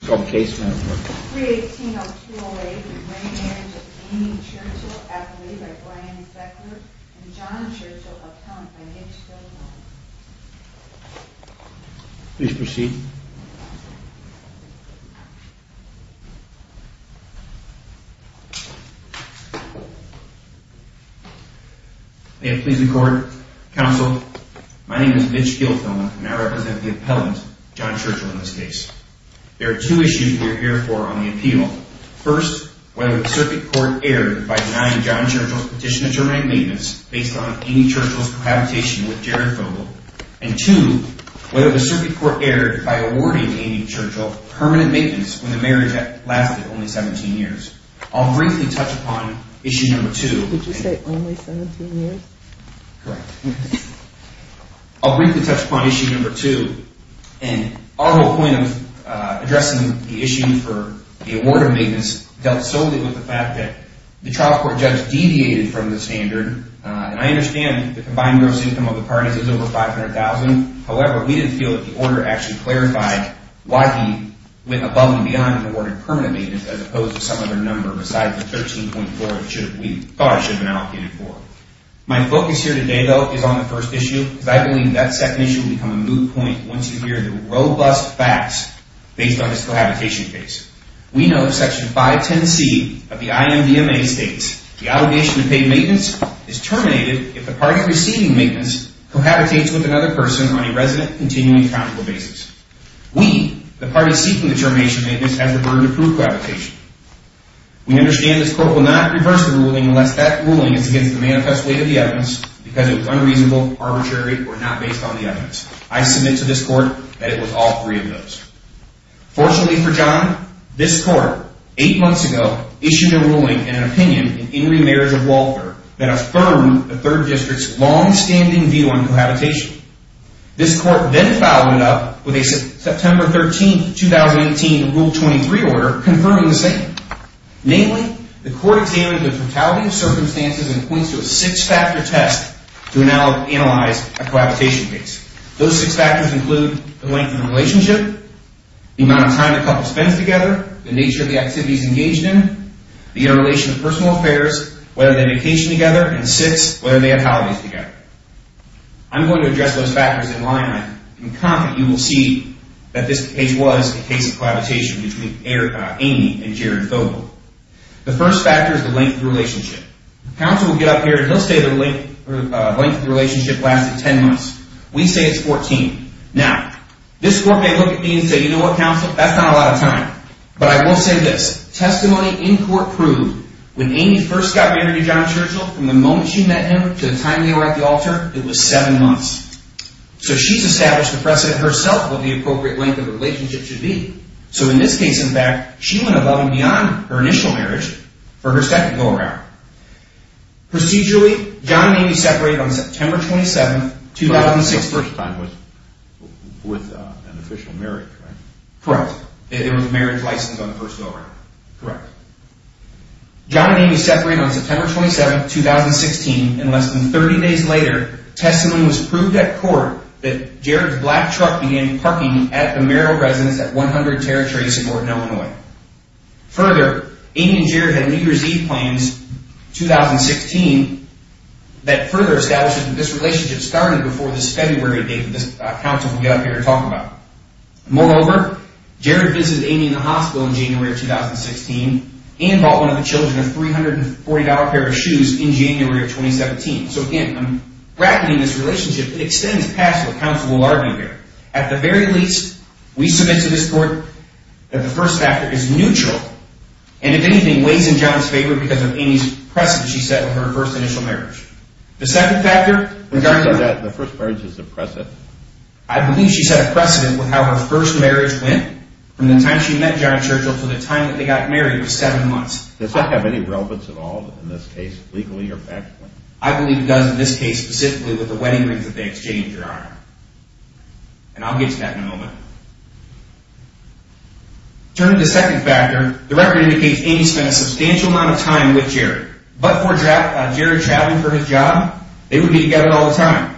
case. Please proceed. Please record Council. My name is Mitch Gilthoma, and I represent the appellant John Churchill in this case. There are two issues we're here for on the appeal. First, whether the circuit court erred by denying John Churchill's petition to terminate maintenance based on Amy Churchill's cohabitation with Jared Vogel. And two, whether the circuit court erred by awarding Amy Churchill permanent maintenance when the marriage lasted only 17 years. I'll briefly touch upon issue number two. Did you say only 17 years? Correct. I'll briefly touch upon issue number two. And our whole point of addressing the issue for the award of maintenance dealt solely with the fact that the trial court judge deviated from the standard. And I understand the combined gross income of the parties is over 500,000. However, we didn't feel that the order actually clarified why he went above and beyond and awarded permanent maintenance as opposed to some other number besides the 13.4, which we thought should have been allocated for. My focus here today, though, is on the first issue, because I believe that second issue will become a moot point once you hear the robust facts based on his cohabitation case. We know that Section 510C of the IMDMA states the allegation of paid maintenance is terminated if the party receiving maintenance cohabitates with another person on a resident continuing accountable basis. We, the party seeking the termination of maintenance, have the burden to prove cohabitation. We understand this court will not reverse the ruling unless that ruling is against the manifest weight of the evidence, because it was unreasonable, arbitrary, or not based on the evidence. I submit to this court that it was all three of those. Fortunately for John, this court, eight months ago, issued a ruling and an opinion in Henry Meyers of Walford that affirmed the third district's longstanding view on cohabitation. This court then followed it up with a September 13, 2018, Rule 23 order confirming the same. Namely, the court examined the totality of circumstances and points to a six-factor test to analyze a cohabitation case. Those six factors include the length of the relationship, the amount of time the couple spends together, the nature of the activities engaged in, the interrelation of personal affairs, whether they vacation together, and six, whether they have holidays together. I'm going to address those factors in line. In comment, you will see that this case was a case of cohabitation between Amy and Jared Fogle. The first factor is the length of the relationship. Counsel will get up here and he'll say the length of the relationship lasted 10 months. We say it's 14. Now, this court may look at me and say, you know what, counsel, that's not a lot of time. But I will say this. Testimony in court proved when Amy first got married to John Churchill, from the moment she met him to the time they were at the altar, it was seven months. So she's established the precedent herself of the appropriate length of the relationship should be. So in this case, in fact, she went above and beyond her initial marriage for her second go-around. Procedurally, John and Amy separated on September 27, 2006. First time was with an official marriage, right? Correct. It was a marriage license on the first go-around. Correct. John and Amy separated on September 27, 2016, and less than 30 days later, testimony was proved at court that Jared's black truck began parking at the marital residence at 100 Territory Support in Illinois. Further, Amy and Jared had New Year's Eve plans, 2016, that further established that this relationship started before this February date that this counsel will get up here and talk about. Moreover, Jared visited Amy in the hospital in January of 2016 and bought one of the children of $340 pair of shoes in January of 2017. So again, I'm bracketing this relationship. It extends past what counsel will argue here. At the very least, we submit to this court that the first factor is neutral, and if anything, weighs in John's favor because of Amy's precedent she set with her first initial marriage. The second factor, regardless of that, the first marriage is a precedent. I believe she set a precedent with how her first marriage went from the time she met John Churchill to the time that they got married was seven months. Does that have any relevance at all in this case, legally or factually? I believe it does in this case specifically with the wedding rings that they exchanged, Your Honor. And I'll get to that in a moment. Turning to the second factor, the record indicates Amy spent a substantial amount of time with Jared, but before Jared traveled for his job, they would be together all the time.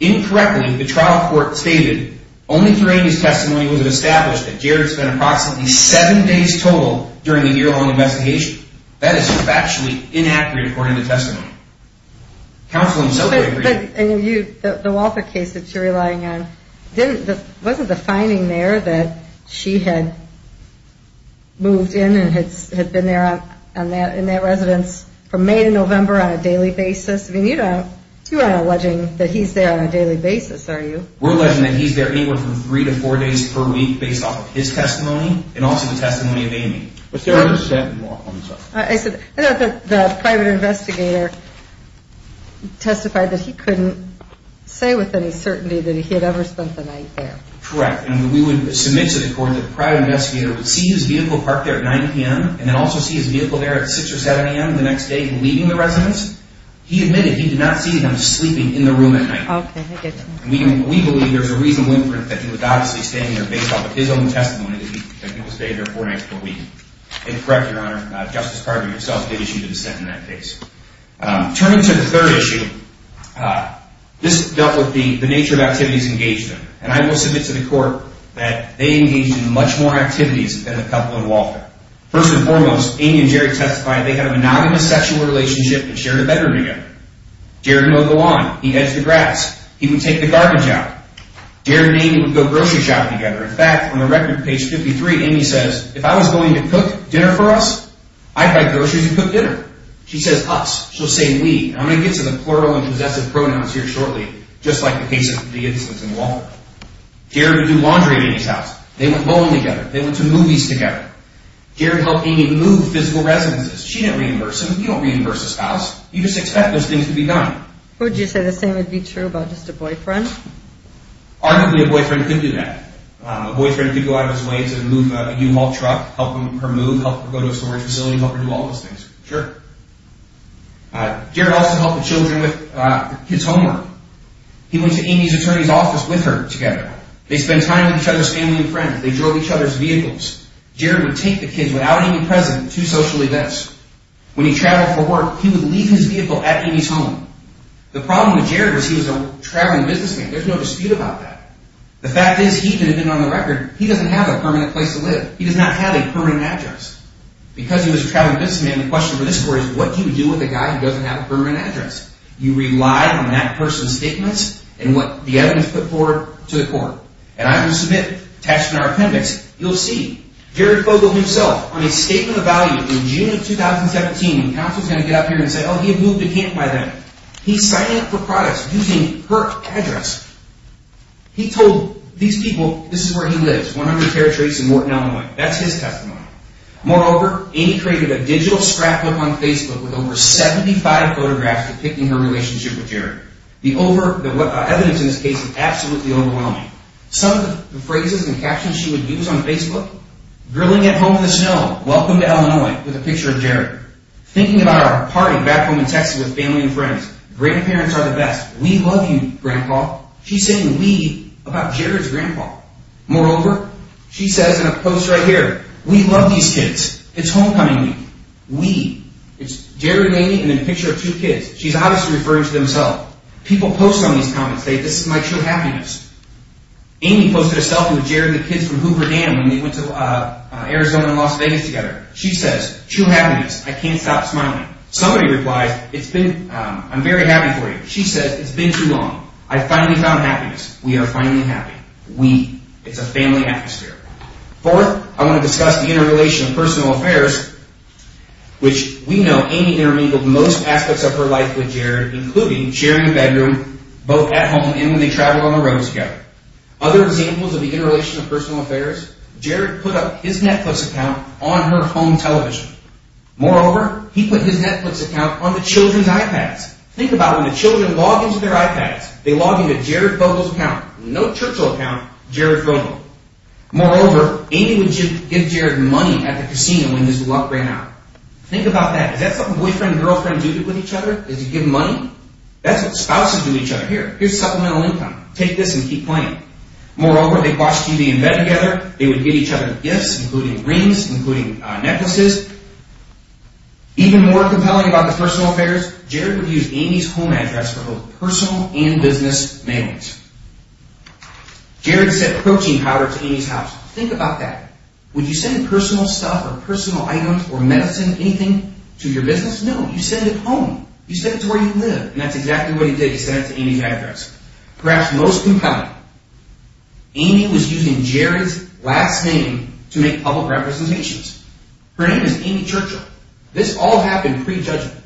Incorrectly, the trial court stated, only through Amy's testimony was it established that Jared spent approximately seven days total during the year-long investigation. That is factually inaccurate according to testimony. Counsel himself would agree. The Walter case that you're relying on, wasn't the finding there that she had moved in and had been there in that residence from May to November on a daily basis? I mean, you're not alleging that he's there on a daily basis, are you? We're alleging that he's there anywhere from three to four days per week based off of his testimony and also the testimony of Amy. I said, I thought that the private investigator testified that he couldn't say with any certainty that he had ever spent the night there. Correct. And we would submit to the court that the private investigator would see his vehicle parked there at 9 p.m. and then also see his vehicle there at 6 or 7 a.m. the next day, leaving the residence. He admitted he did not see him sleeping in the room at night. We believe there's a reasonable inference that he was obviously staying there based off of his own testimony, that he was there four nights per week. And correct, Your Honor, Justice Carvin himself did issue the dissent in that case. Turning to the third issue, this dealt with the nature of activities engaged in. And I will submit to the court that they engaged in much more activities than the couple in Walter. First and foremost, Amy and Jared testified they had a monogamous sexual relationship and shared a bedroom together. Jared mowed the lawn. He hedged the grass. He would take the garbage out. Jared and Amy would go grocery shopping together. In fact, on the record, page 53, Amy says, if I was going to cook dinner for us, I'd buy groceries and cook dinner. She says us. She'll say we. I'm going to get to the plural and possessive pronouns here shortly, just like the case of the instance in Walter. Jared would do laundry at Amy's house. They went bowling together. They went to movies together. Jared helped Amy move physical residences. She didn't reimburse him. You don't reimburse a spouse. You just expect those things to be done. Would you say the same would be true about just a boyfriend? Arguably, a boyfriend could do that. A boyfriend could go out of his way to move a U-Haul truck, help her move, help her go to a storage facility, help her do all those things. Sure. Jared also helped the children with his homework. He went to Amy's attorney's office with her together. They spent time with each other's family and friends. They drove each other's vehicles. Jared would take the kids without Amy present to social events. When he traveled for work, he would leave his vehicle at Amy's home. The problem with Jared was he was a traveling businessman. There's no dispute about that. The fact is he, even on the record, he doesn't have a permanent place to live. He does not have a permanent address. Because he was a traveling businessman, the question for this court is what do you do with a guy who doesn't have a permanent address? You rely on that person's statements and what the evidence put forward to the court. And I'm going to submit an attachment to our appendix. You'll see Jared Fogle himself on a statement of value in June of 2017, and counsel's going to get up here and say, oh, he had moved to camp by then. He's signing up for products using her address. He told these people this is where he lives, 100 Territories and Morton, Illinois. That's his testimony. Moreover, Amy created a digital scrapbook on Facebook with over 75 photographs depicting her relationship with Jared. The evidence in this case is absolutely overwhelming. Some of the phrases and captions she would use on Facebook, grilling at home in the snow, welcome to Illinois, with a picture of Jared. Thinking about our party back home in Texas with family and friends, grandparents are the best. We love you, grandpa. She's saying we about Jared's grandpa. Moreover, she says in a post right here, we love these kids. It's homecoming week. We. It's Jared and Amy and then a picture of two kids. She's obviously referring to themselves. People post some of these comments. They say this is my true happiness. Amy posted a selfie with Jared and the kids from Hoover Dam when they went to Arizona and Las Vegas together. She says, true happiness. I can't stop smiling. Somebody replies, I'm very happy for you. She says, it's been too long. I finally found happiness. We are finally happy. We. It's a family atmosphere. Fourth, I want to discuss the interrelation of personal affairs, which we know Amy intermingled most aspects of her life with Jared, including sharing a bedroom both at home and when they travel on the road together. Other examples of the interrelation of personal affairs, Jared put up his Netflix account on her home television. Moreover, he put his Netflix account on the children's iPads. Think about when the children log into their iPads, they log into Jared Vogel's account, no Churchill account, Jared Vogel. Moreover, Amy would give Jared money at the casino when his luck ran out. Think about that. Is that something boyfriend and girlfriend do with each other? Is it give money? That's what spouses do to each other. Here, here's supplemental income. Take this and keep playing. Moreover, they'd watch TV in bed together. They would give each other gifts, including rings, including necklaces. Even more compelling about the personal affairs, Jared would use Amy's home address for both personal and business mailings. Jared sent protein powder to Amy's house. Think about that. Would you send personal stuff or personal items or medicine, anything, to your business? No, you send it home. You send it to where you live, and that's exactly what he did. He sent it to Amy's address. Perhaps most compelling, Amy was using Jared's last name to make public representations. Her name is Amy Churchill. This all happened pre-judgment.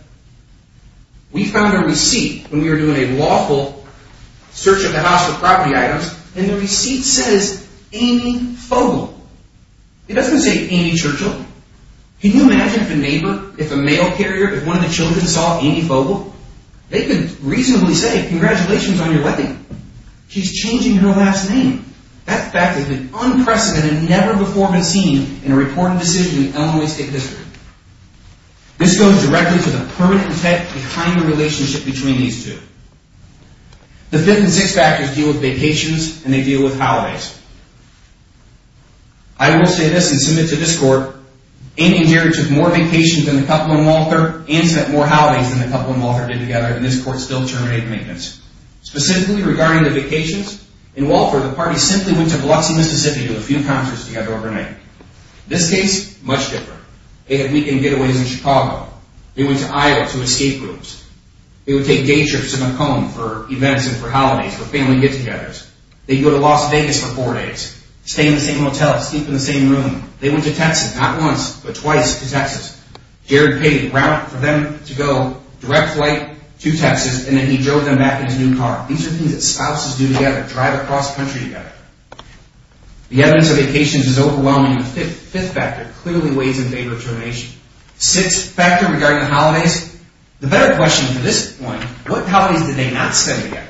We found her receipt when we were doing a lawful search of the house for property items, and the receipt says Amy Fogle. It doesn't say Amy Churchill. Can you imagine if a neighbor, if a mail carrier, if one of the children saw Amy Fogle? They could reasonably say, congratulations on your wedding. She's changing her last name. That fact has been unprecedented, never before been seen in a reporting decision in Illinois State history. This goes directly to the permanent intent behind the relationship between these two. The fifth and sixth factors deal with vacations, and they deal with holidays. I will say this and submit to this court, Amy and Jared took more vacations than the couple in Walther and spent more holidays than the couple in Walther did together, and this court still terminated maintenance. Specifically regarding the vacations, in Walther, the party simply went to Biloxi, Mississippi to do a few concerts together overnight. This case, much different. They had weekend getaways in Chicago. They went to Iowa to escape groups. They would take day trips to Macomb for events and for holidays, for family get-togethers. They'd go to Las Vegas for four days, stay in the same motel, sleep in the same room. They went to Texas, not once, but twice to Texas. Jared paid rent for them to go direct flight to Texas, and then he drove them back in his new car. These are things that spouses do together, drive across the country together. The evidence of vacations is overwhelming. The fifth factor clearly weighs in favor of termination. Sixth factor regarding the holidays. The better question for this point, what holidays did they not spend together?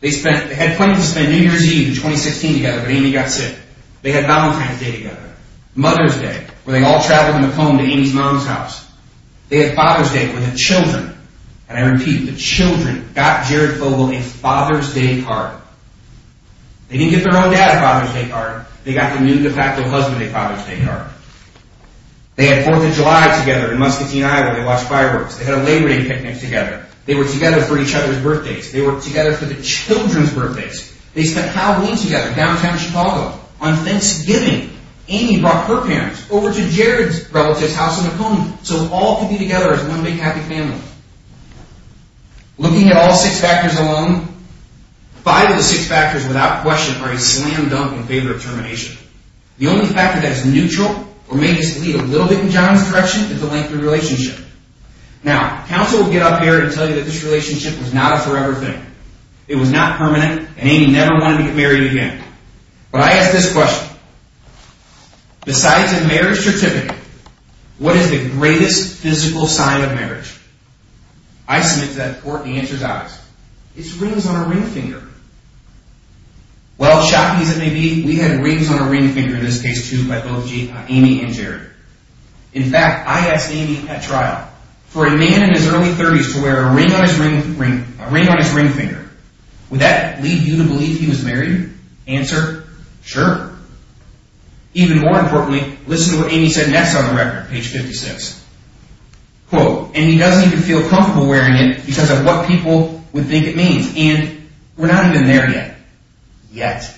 They had plenty to spend New Year's Eve in 2016 together, but Amy got sick. They had Valentine's Day together. Mother's Day, where they all traveled home to Amy's mom's house. They had Father's Day, where the children, and I repeat, the children got Jared Fogle a Father's Day card. They didn't give their own dad a Father's Day card. They got the new de facto husband a Father's Day card. They had Fourth of July together in Muscatine Island. They watched fireworks. They had a Labor Day picnic together. They were together for each other's birthdays. They were together for the children's birthdays. They spent Halloween together in downtown Chicago. On Thanksgiving, Amy brought her parents over to Jared's relative's house in Oconee, so all could be together as one big happy family. Looking at all six factors alone, five of the six factors without question are a slam dunk in favor of termination. The only factor that is neutral or may just lead a little bit in John's direction is the length of the relationship. Now, counsel will get up here and tell you that this relationship was not a forever thing. It was not permanent, and Amy never wanted to get married again. But I ask this question. Besides a marriage certificate, what is the greatest physical sign of marriage? I submit to that court the answer is obvious. It's rings on a ring finger. Well, shocking as it may be, we had rings on a ring finger in this case, too, by both Amy and Jared. In fact, I asked Amy at trial, for a man in his early 30s to wear a ring on his ring finger. Would that lead you to believe he was married? Answer, sure. Even more importantly, listen to what Amy said next on the record, page 56. Quote, and he doesn't even feel comfortable wearing it because of what people would think it means. And we're not even there yet. Yet.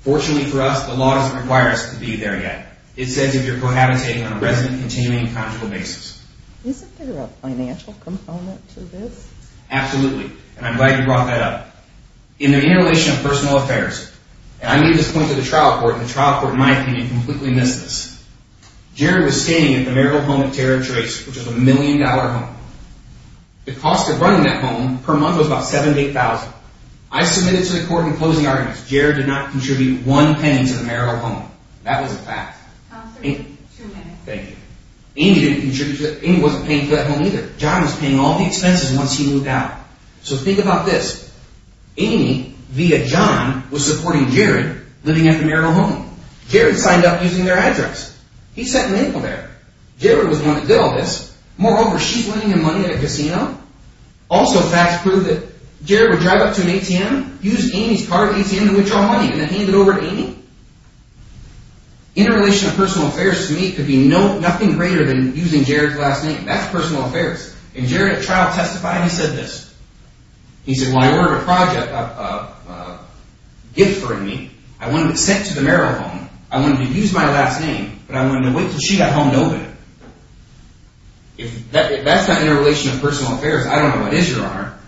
Fortunately for us, the law doesn't require us to be there yet. It says if you're cohabitating on a resident, continuing, and conjugal basis. Isn't there a financial component to this? Absolutely, and I'm glad you brought that up. In the interrelation of personal affairs, and I made this point to the trial court, and the trial court, in my opinion, completely missed this. Jared was staying at the marital home of Tara Trace, which was a million-dollar home. The cost of running that home per month was about $7,000 to $8,000. I submitted to the court in closing arguments, Jared did not contribute one penny to the marital home. That was a fact. Answer me, two minutes. Thank you. Amy didn't contribute, Amy wasn't paying for that home either. John was paying all the expenses once he moved out. So think about this. Amy, via John, was supporting Jared living at the marital home. Jared signed up using their address. He sent an email there. Jared was the one that did all this. Moreover, she's winning him money at a casino. Also, facts prove that Jared would drive up to an ATM, use Amy's card at the ATM to withdraw money, and then hand it over to Amy. Interrelation of personal affairs to me could be nothing greater than using Jared's last name. That's personal affairs. And Jared at trial testified, he said this. He said, well, I ordered a project, a gift for Amy. I wanted it sent to the marital home. I wanted to use my last name, but I wanted to wait until she got home to open it. If that's not interrelation of personal affairs, I don't know what is, Your Honor,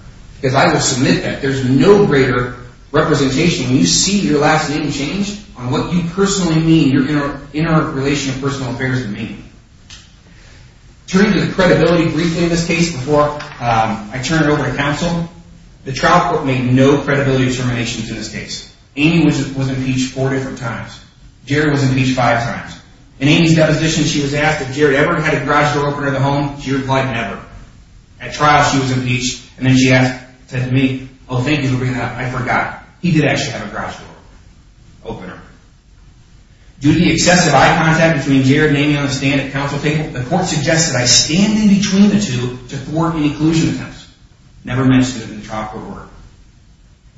because I would submit that. There's no greater representation when you see your last name changed on what you personally mean, your interrelation of personal affairs to me. Turning to the credibility briefly in this case before I turn it over to counsel, the trial court made no credibility determinations in this case. Amy was impeached four different times. Jared was impeached five times. In Amy's deposition, she was asked if Jared ever had a garage door opener in the home. She replied, never. At trial, she was impeached, and then she said to me, oh, thank you for bringing that up. I forgot. He did actually have a garage door opener. Due to the excessive eye contact between Jared and Amy on the stand at counsel table, the court suggested I stand in between the two to thwart any collusion attempts. Never mentioned it in the trial court order.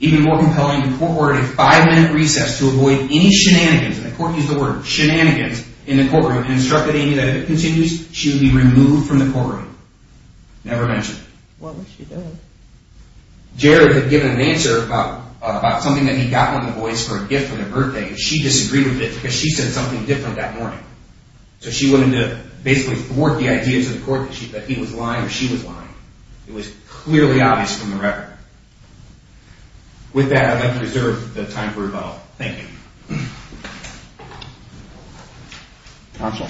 Even more compelling, the court ordered a five-minute recess to avoid any shenanigans, and the court used the word shenanigans, in the courtroom, and instructed Amy that if it continues, she would be removed from the courtroom. Never mentioned. What was she doing? Jared had given an answer about something that he got from the boys for a gift on their birthday, and she disagreed with it because she said something different that morning. So she wanted to basically thwart the idea to the court that he was lying or she was lying. It was clearly obvious from the record. With that, I'd like to reserve the time for rebuttal. Thank you. Counsel.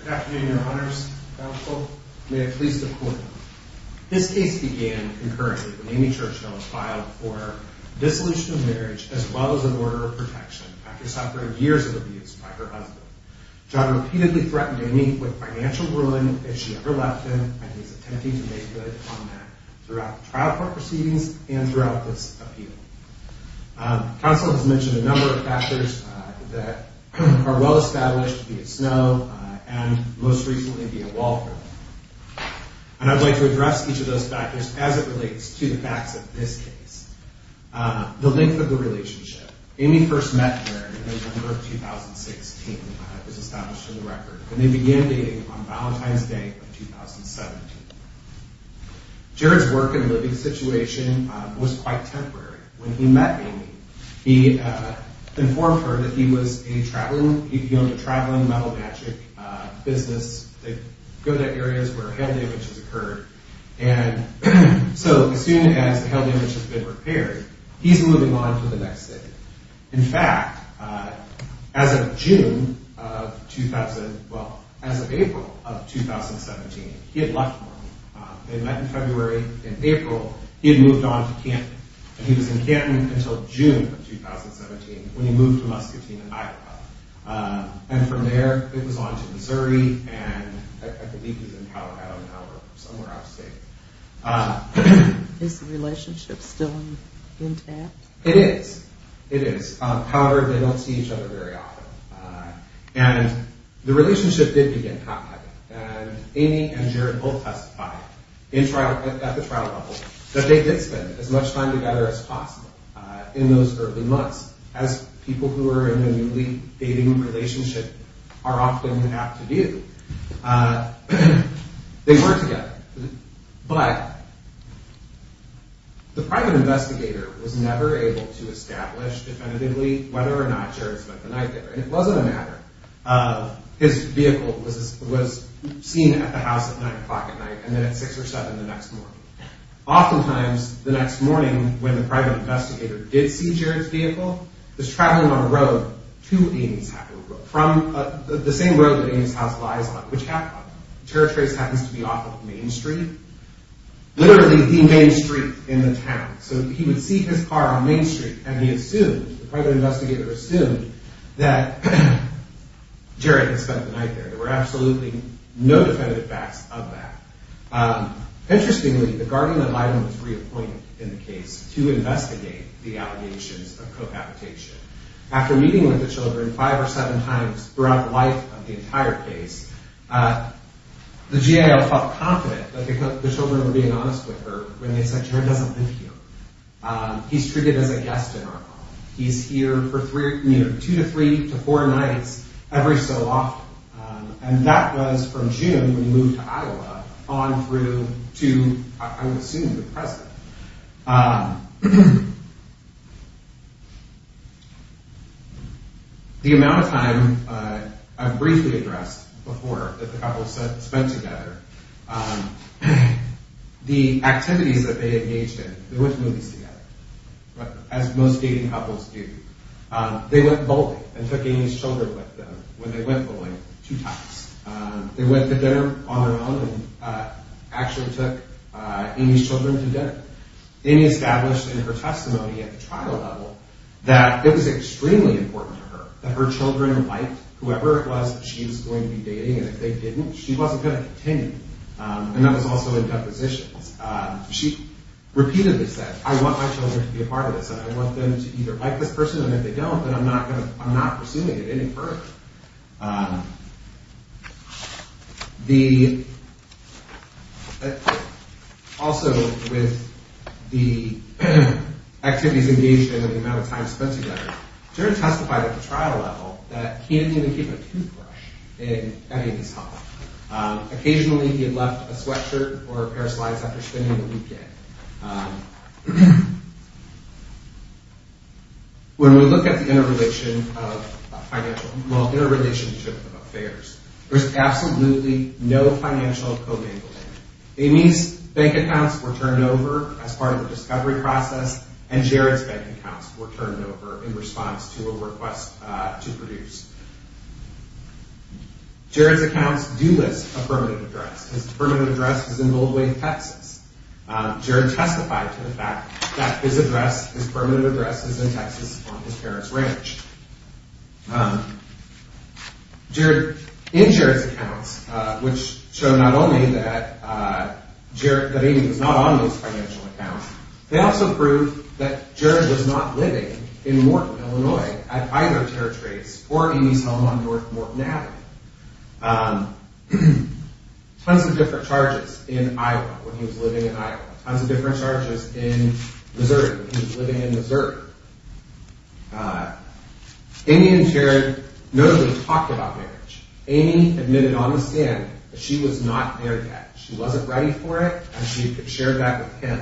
Good afternoon, Your Honors. Counsel, may I please the court. This case began concurrently when Amy Churchno was filed for dissolution of marriage as well as an order of protection after suffering years of abuse by her husband. Jared repeatedly threatened Amy with financial ruin if she ever left him, and he's attempting to make good on that throughout the trial court proceedings and throughout this appeal. Counsel has mentioned a number of factors that are well established, be it snow and, most recently, be it water. And I'd like to address each of those factors as it relates to the facts of this case. The length of the relationship. Amy first met Jared in November of 2016, as established in the record, and they began dating on Valentine's Day of 2017. Jared's work and living situation was quite temporary. When he met Amy, he informed her that he owned a traveling metal magic business that goes to areas where hail damage has occurred. And so, as soon as the hail damage has been repaired, he's moving on to the next city. In fact, as of June of 2017, well, as of April of 2017, he had left Norman. They met in February. In April, he had moved on to Canton. And he was in Canton until June of 2017 when he moved to Muscatine, Iowa. And from there, it was on to Missouri, and I believe he's in Colorado now or somewhere out of state. Is the relationship still intact? It is. It is. However, they don't see each other very often. And the relationship did begin to happen. And Amy and Jared both testified at the trial level that they did spend as much time together as possible in those early months. As people who are in a newly dating relationship are often apt to do, they were together. But the private investigator was never able to establish definitively whether or not Jared spent the night there. And it wasn't a matter of his vehicle was seen at the house at 9 o'clock at night and then at 6 or 7 the next morning. Oftentimes, the next morning when the private investigator did see Jared's vehicle, was traveling on a road to Amy's house. The same road that Amy's house lies on, which happens to be off of Main Street. Literally, the main street in the town. So he would see his car on Main Street, and the private investigator assumed that Jared had spent the night there. There were absolutely no definitive facts of that. Interestingly, the guardian of item was reappointed in the case to investigate the allegations of cohabitation. After meeting with the children five or seven times throughout the life of the entire case, the GAO felt confident that the children were being honest with her when they said, Jared doesn't live here. He's treated as a guest in our home. He's here for two to three to four nights every so often. And that was from June when he moved to Iowa on through to, I would assume, the present. The amount of time I've briefly addressed before that the couple spent together, the activities that they engaged in, they went to movies together, as most dating couples do. They went bowling and took Amy's children with them. When they went bowling, two times. They went to dinner on their own and actually took Amy's children to dinner. Amy established in her testimony at the trial level that it was extremely important to her that her children liked whoever it was that she was going to be dating. And if they didn't, she wasn't going to continue. And that was also in depositions. She repeatedly said, I want my children to be a part of this. And I want them to either like this person, and if they don't, then I'm not pursuing it any further. Also, with the activities engaged in and the amount of time spent together, Jared testified at the trial level that he didn't even keep a toothbrush in Amy's home. Occasionally, he had left a sweatshirt or a pair of slides after spending the weekend. When we look at the interrelationship of affairs, there's absolutely no financial commingling. Amy's bank accounts were turned over as part of the discovery process, and Jared's bank accounts were turned over in response to a request to produce. Jared's accounts do list a permanent address. His permanent address is in Gold Lake, Texas. Jared testified to the fact that his address, his permanent address, is in Texas on his parents' ranch. In Jared's accounts, which show not only that Amy was not on those financial accounts, they also prove that Jared was not living in Morton, Illinois, at either of Jared's rates, or Amy's home on North Morton Avenue. Tons of different charges in Iowa, when he was living in Iowa. Tons of different charges in Missouri, when he was living in Missouri. Amy and Jared notably talked about marriage. Amy admitted on the stand that she was not there yet. She wasn't ready for it, and she shared that with him.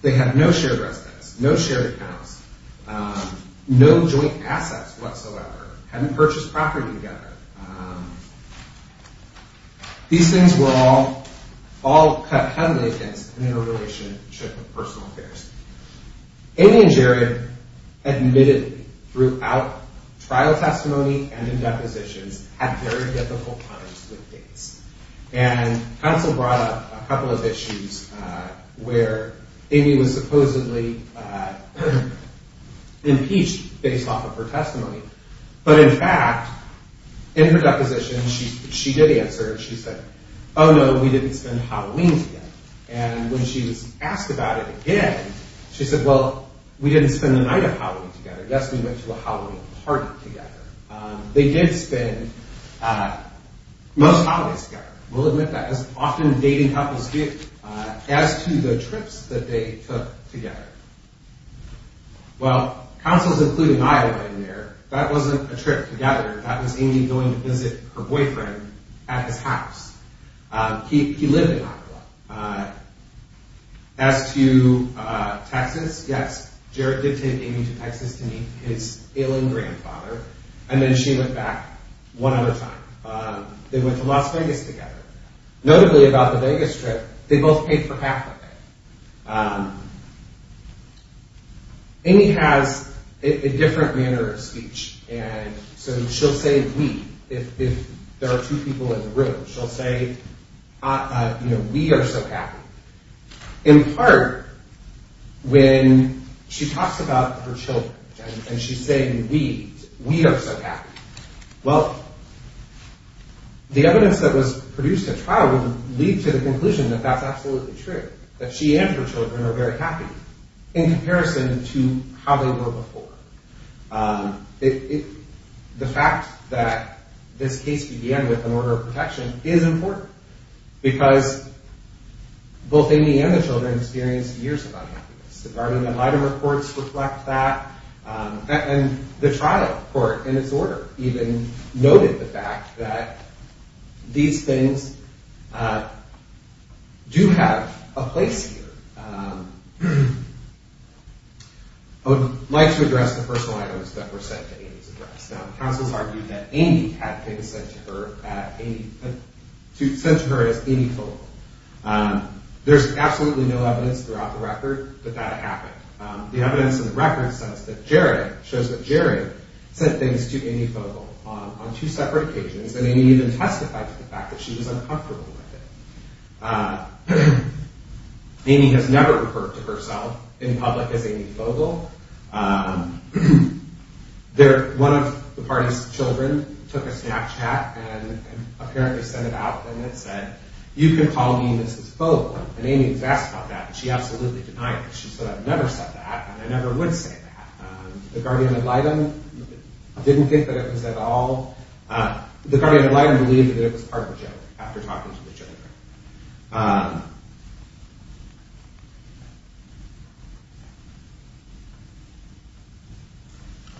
They had no shared residence, no shared house, no joint assets whatsoever. Hadn't purchased property together. These things were all cut heavily against an interrelationship of personal affairs. Amy and Jared admitted throughout trial testimony and in depositions, had very difficult times with dates. And counsel brought up a couple of issues where Amy was supposedly impeached based off of her testimony. But in fact, in her deposition, she did answer. She said, oh no, we didn't spend Halloween together. And when she was asked about it again, she said, well, we didn't spend the night of Halloween together. Yes, we went to a Halloween party together. They did spend most holidays together. We'll admit that. As often dating couples do. As to the trips that they took together. Well, counsel's including Iowa in there. That wasn't a trip together. That was Amy going to visit her boyfriend at his house. He lived in Iowa. As to Texas, yes, Jared did take Amy to Texas to meet his ailing grandfather. And then she went back one other time. They went to Las Vegas together. Notably about the Vegas trip, they both paid for half of it. Amy has a different manner of speech. And so she'll say we, if there are two people in the room. She'll say, we are so happy. In part, when she talks about her children and she's saying we, we are so happy. Well, the evidence that was produced at trial would lead to the conclusion that that's absolutely true. That she and her children are very happy. In comparison to how they were before. The fact that this case began with an order of protection is important. Because both Amy and the children experienced years of unhappiness. The Gardner and Heidemer courts reflect that. And the trial court, in its order, even noted the fact that these things do have a place here. I would like to address the personal items that were sent to Amy's address. Now, counsels argued that Amy had things sent to her as Amy Fogle. There's absolutely no evidence throughout the record that that happened. The evidence in the record says that Jerry, shows that Jerry sent things to Amy Fogle on two separate occasions. And Amy even testified to the fact that she was uncomfortable with it. Amy has never referred to herself in public as Amy Fogle. One of the party's children took a Snapchat and apparently sent it out and it said, You can call me Mrs. Fogle. And Amy was asked about that and she absolutely denied it. She said, I've never said that and I never would say that. The Gardner and Heidemer didn't think that it was at all. The Gardner and Heidemer believed that it was part of a joke after talking to the children.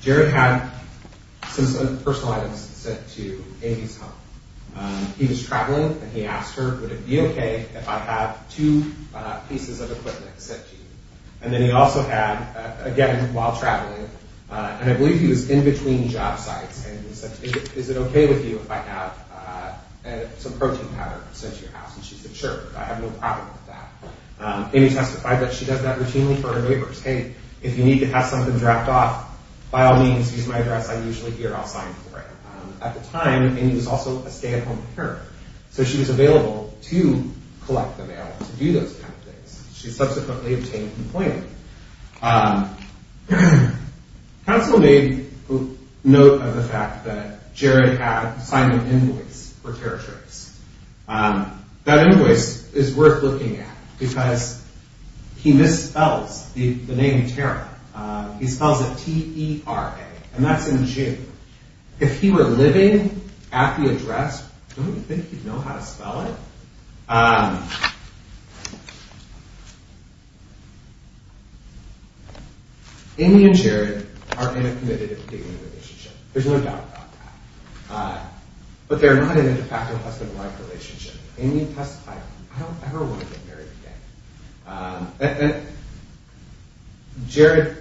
Jerry had some personal items sent to Amy's home. He was traveling and he asked her, would it be okay if I have two pieces of equipment sent to you? And then he also had, again, while traveling, and I believe he was in between job sites and he said, is it okay with you if I have some protein powder sent to your house? And she said, sure, I have no problem with that. Amy testified that she does that routinely for her neighbors. Hey, if you need to have something dropped off, by all means, use my address. I'm usually here. I'll sign for it. At the time, Amy was also a stay-at-home parent. So she was available to collect the mail, to do those kind of things. She subsequently obtained a complaint. Counsel made note of the fact that Jerry had signed an invoice for territories. That invoice is worth looking at because he misspells the name Tara. He spells it T-E-R-A, and that's in G. If he were living at the address, don't you think he'd know how to spell it? Amy and Jerry are in a committed and dignity relationship. There's no doubt about that. But they're not in a de facto husband-wife relationship. Amy testified, I don't ever want to get married again. And Jerry,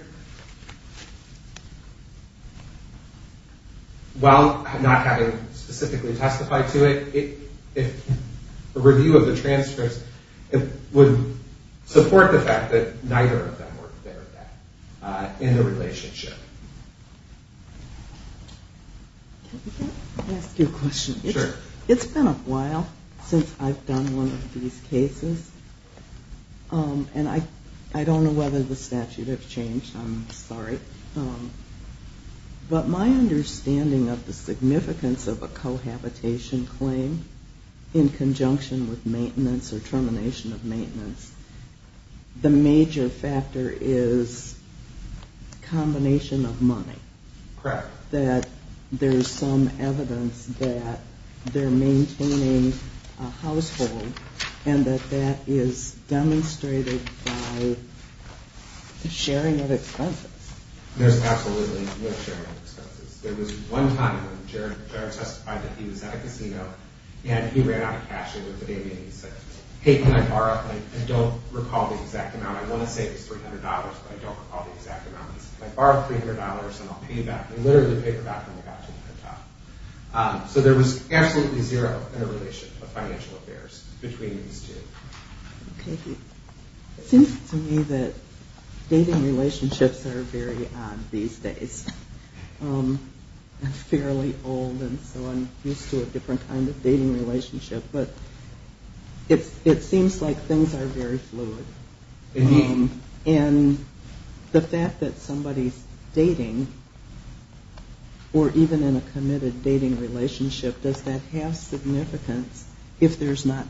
while not having specifically testified to it, a review of the transfers would support the fact that neither of them were there then in the relationship. Can I ask you a question? Sure. It's been a while since I've done one of these cases. And I don't know whether the statute has changed. I'm sorry. But my understanding of the significance of a cohabitation claim in conjunction with maintenance or termination of maintenance, the major factor is combination of money. Correct. That there's some evidence that they're maintaining a household and that that is demonstrated by the sharing of expenses. There's absolutely no sharing of expenses. There was one time when Jerry testified that he was at a casino and he ran out of cash over the day. And he said, hey, can I borrow? I don't recall the exact amount. I want to say it was $300, but I don't recall the exact amount. Can I borrow $300 and I'll pay you back? And he literally paid her back when he got to the top. So there was absolutely zero interrelationship of financial affairs between these two. Okay. It seems to me that dating relationships are very odd these days. I'm fairly old and so I'm used to a different kind of dating relationship. But it seems like things are very fluid. And the fact that somebody's dating or even in a committed dating relationship, does that have significance if there's not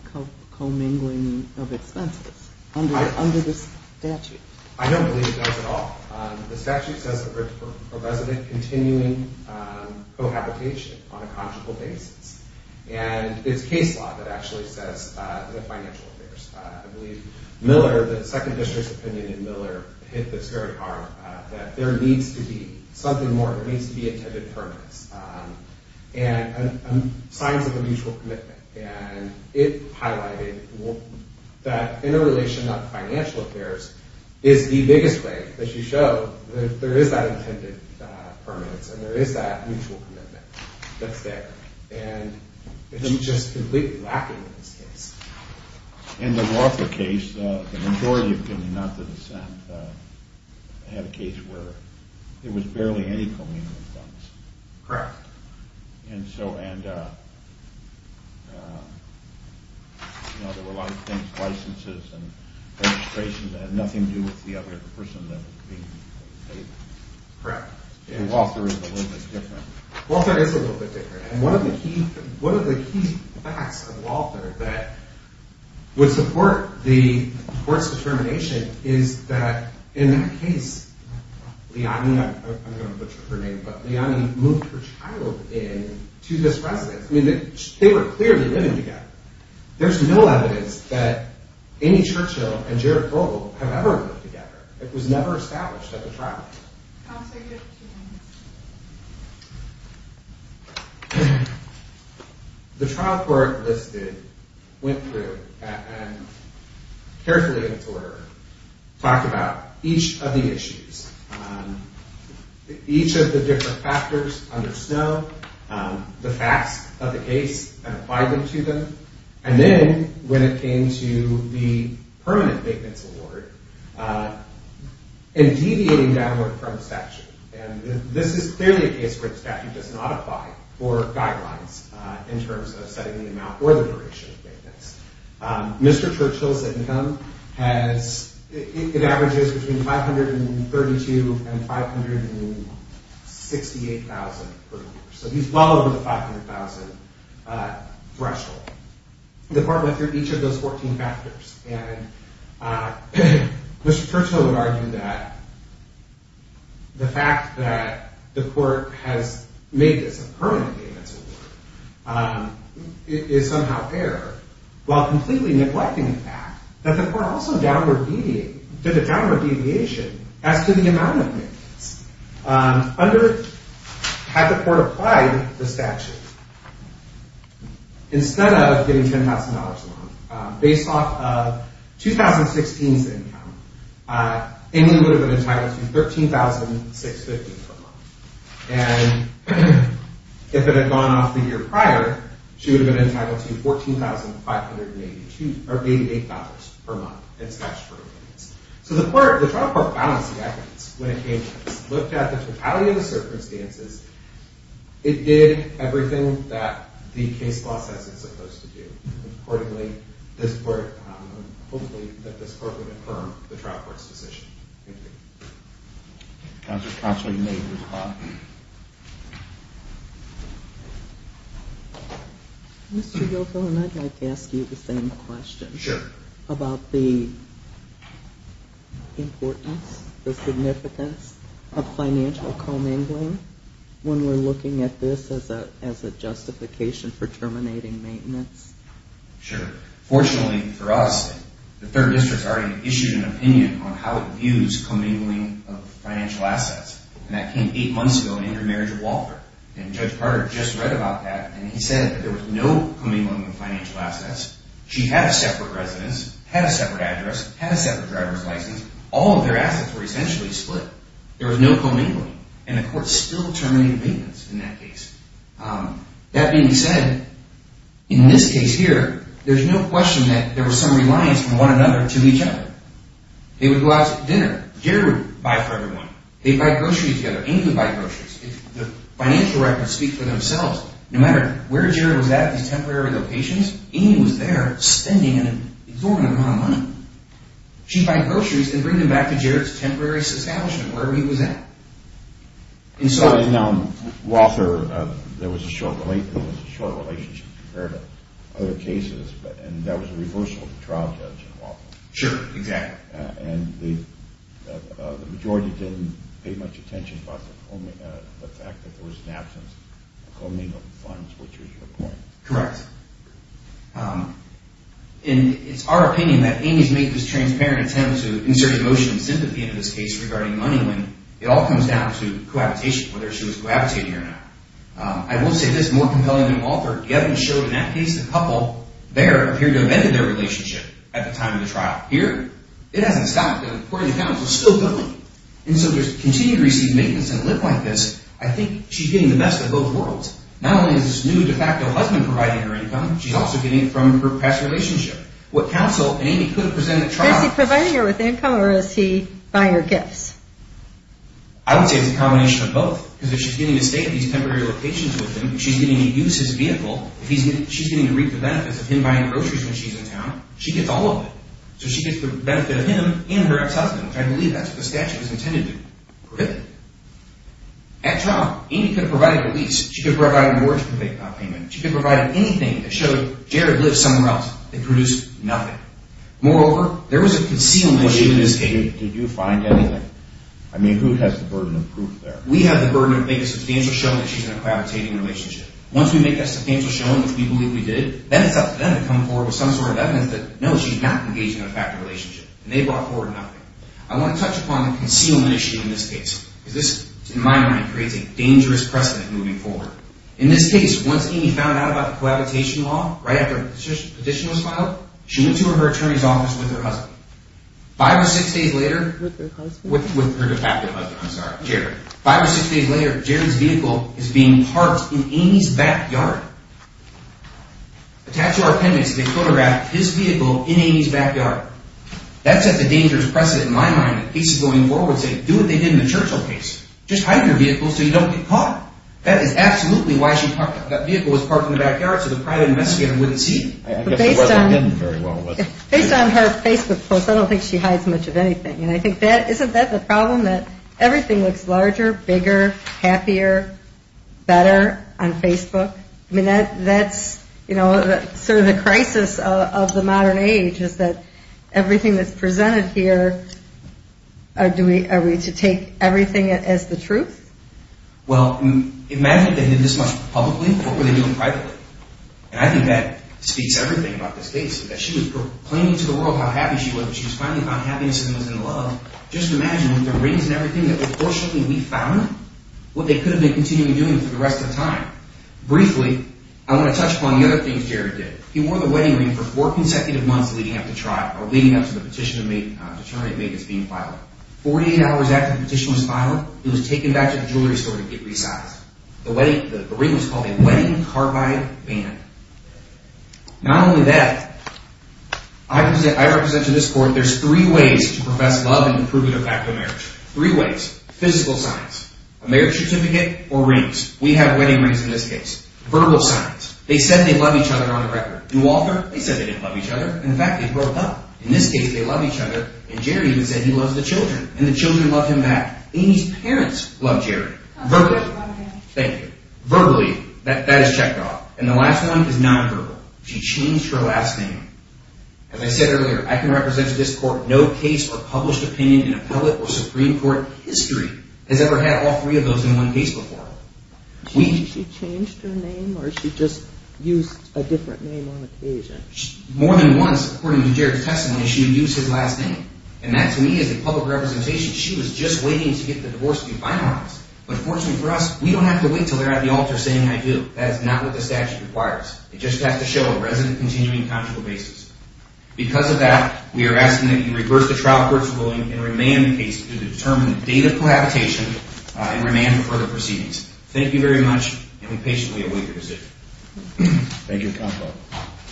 commingling of expenses under the statute? I don't believe it does at all. The statute says that we're for resident continuing cohabitation on a conjugal basis. And it's case law that actually says the financial affairs. I believe Miller, the second district's opinion in Miller, hit this very hard that there needs to be something more. There needs to be intended permanence. And signs of a mutual commitment. And it highlighted that interrelation of financial affairs is the biggest way that you show that there is that intended permanence and there is that mutual commitment that's there. And it's just completely lacking in this case. In the Walther case, the majority opinion, not the dissent, had a case where there was barely any commingling of funds. Correct. And so there were a lot of things, licenses and registration, that had nothing to do with the other person that was being dated. Correct. And Walther is a little bit different. Walther is a little bit different. And one of the key facts of Walther that would support the court's determination is that in that case, Liani, I'm going to butcher her name, but Liani moved her child in to this residence. I mean, they were clearly living together. There's no evidence that Amy Churchill and Jared Grobel have ever lived together. It was never established at the trial. I'll take two minutes. The trial court listed, went through, and carefully in its order, talked about each of the issues, each of the different factors under Snow, the facts of the case and applied them to them, and then when it came to the permanent maintenance award and deviating downward from the statute. And this is clearly a case where the statute does not apply for guidelines in terms of setting the amount or the duration of maintenance. Mr. Churchill's income has, it averages between $532,000 and $568,000 per year. So he's well over the $500,000 threshold. The court went through each of those 14 factors, and Mr. Churchill would argue that the fact that the court has made this a permanent maintenance award is somehow fair, while completely neglecting the fact that the court also did a downward deviation as to the amount of maintenance. Had the court applied the statute instead of getting $10,000 loan based off of 2016's income, Amy would have been entitled to $13,650 per month. And if it had gone off the year prior, she would have been entitled to $14,588 per month in statutory maintenance. So the trial court balanced the evidence when it came to this, looked at the totality of the circumstances. It did everything that the case law says it's supposed to do, and accordingly, this court, hopefully that this court would affirm the trial court's decision. Thank you. Counsel, you may close the floor. Mr. Gilfillan, I'd like to ask you the same question. Sure. About the importance, the significance of financial commingling when we're looking at this as a justification for terminating maintenance? Sure. Fortunately for us, the third district's already issued an opinion on how it views commingling of financial assets. And that came eight months ago in the intermarriage of Wofford. And Judge Carter just read about that, and he said there was no commingling of financial assets. She had a separate residence, had a separate address, had a separate driver's license. All of their assets were essentially split. There was no commingling. And the court still terminated maintenance in that case. That being said, in this case here, there's no question that there was some reliance on one another to each other. They would go out to dinner. Jared would buy for everyone. They'd buy groceries together. Amy would buy groceries. The financial records speak for themselves. No matter where Jared was at, these temporary locations, Amy was there spending an exorbitant amount of money. She'd buy groceries and bring them back to Jared's temporary establishment where he was at. And so… Now, Wofford, there was a short relationship compared to other cases, and that was a reversal of the trial judge in Wofford. Sure, exactly. And the majority didn't pay much attention about the fact that there was an absence of commingling of funds, which was your point. Correct. And it's our opinion that Amy's make was transparent attempt to insert emotion and sympathy in this case regarding money when it all comes down to cohabitation, whether she was cohabitating or not. I will say this. More compelling than Wofford, Gavin showed in that case the couple there appeared to have ended their relationship at the time of the trial. Here, it hasn't stopped. According to counsel, still going. And so to continue to receive maintenance and live like this, I think she's getting the best of both worlds. Not only is this new de facto husband providing her income, she's also getting it from her past relationship. Is he providing her with income or is he buying her gifts? I would say it's a combination of both, because if she's getting to stay at these temporary locations with him, if she's getting to use his vehicle, if she's getting to reap the benefits of him buying groceries when she's in town, she gets all of it. So she gets the benefit of him and her ex-husband, which I believe that's what the statute is intended to do. At trial, Amy could have provided a lease. She could have provided mortgage payment. She could have provided anything that showed Jared lives somewhere else and produced nothing. Moreover, there was a concealment issue in this case. Did you find anything? I mean, who has the burden of proof there? We have the burden of making substantial showing that she's in a cohabitating relationship. Once we make that substantial showing, which we believe we did, then it's up to them to come forward with some sort of evidence that no, she's not engaged in a de facto relationship, and they brought forward nothing. I want to touch upon the concealment issue in this case, because this, in my mind, creates a dangerous precedent moving forward. In this case, once Amy found out about the cohabitation law, right after the petition was filed, she went to her attorney's office with her husband. Five or six days later, with her de facto husband, I'm sorry, Jared. Five or six days later, Jared's vehicle is being parked in Amy's backyard. The tattoo or appendix, they photographed his vehicle in Amy's backyard. That set the dangerous precedent in my mind in cases going forward, saying do what they did in the Churchill case. Just hide your vehicle so you don't get caught. That is absolutely why she parked it. That vehicle was parked in the backyard so the private investigator wouldn't see it. I guess it wasn't hidden very well, was it? Based on her Facebook post, I don't think she hides much of anything. Isn't that the problem, that everything looks larger, bigger, happier, better on Facebook? I mean, that's sort of the crisis of the modern age, is that everything that's presented here, are we to take everything as the truth? Well, imagine if they did this much publicly, what were they doing privately? And I think that speaks everything about this case, that she was proclaiming to the world how happy she was, and she was finally found happiness and was in love. Just imagine with the rings and everything that, unfortunately, we found what they could have been continuing doing for the rest of the time. Briefly, I want to touch upon the other things Jared did. He wore the wedding ring for four consecutive months leading up to trial, or leading up to the petition the attorney had made that's being filed. Forty-eight hours after the petition was filed, he was taken back to the jewelry store to get resized. The ring was called a wedding carbide band. Not only that, I represent to this court, there's three ways to profess love and to prove it a fact of marriage. Three ways. Physical signs. A marriage certificate or rings. We have wedding rings in this case. Verbal signs. They said they love each other on the record. New author, they said they didn't love each other. In fact, they broke up. In this case, they love each other, and Jared even said he loves the children, and the children love him back. Amy's parents love Jared. Verbally. Thank you. Verbally, that is checked off. And the last one is nonverbal. She changed her last name. As I said earlier, I can represent to this court, no case or published opinion in appellate or Supreme Court history has ever had all three of those in one case before. She changed her name, or she just used a different name on occasion? More than once, according to Jared's testimony, she used his last name. And that, to me, is a public representation. She was just waiting to get the divorce to be finalized. But unfortunately for us, we don't have to wait until they're at the altar saying, I do. That is not what the statute requires. It just has to show a resident continuing consular basis. Because of that, we are asking that you reverse the trial court's ruling and remand the case to determine the date of cohabitation and remand for further proceedings. Thank you very much, and we patiently await your decision. Thank you, counsel.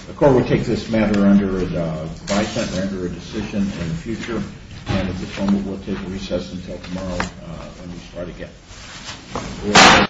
The court will take this matter under advice and render a decision in the future. And at this moment, we'll take a recess until tomorrow when we start again.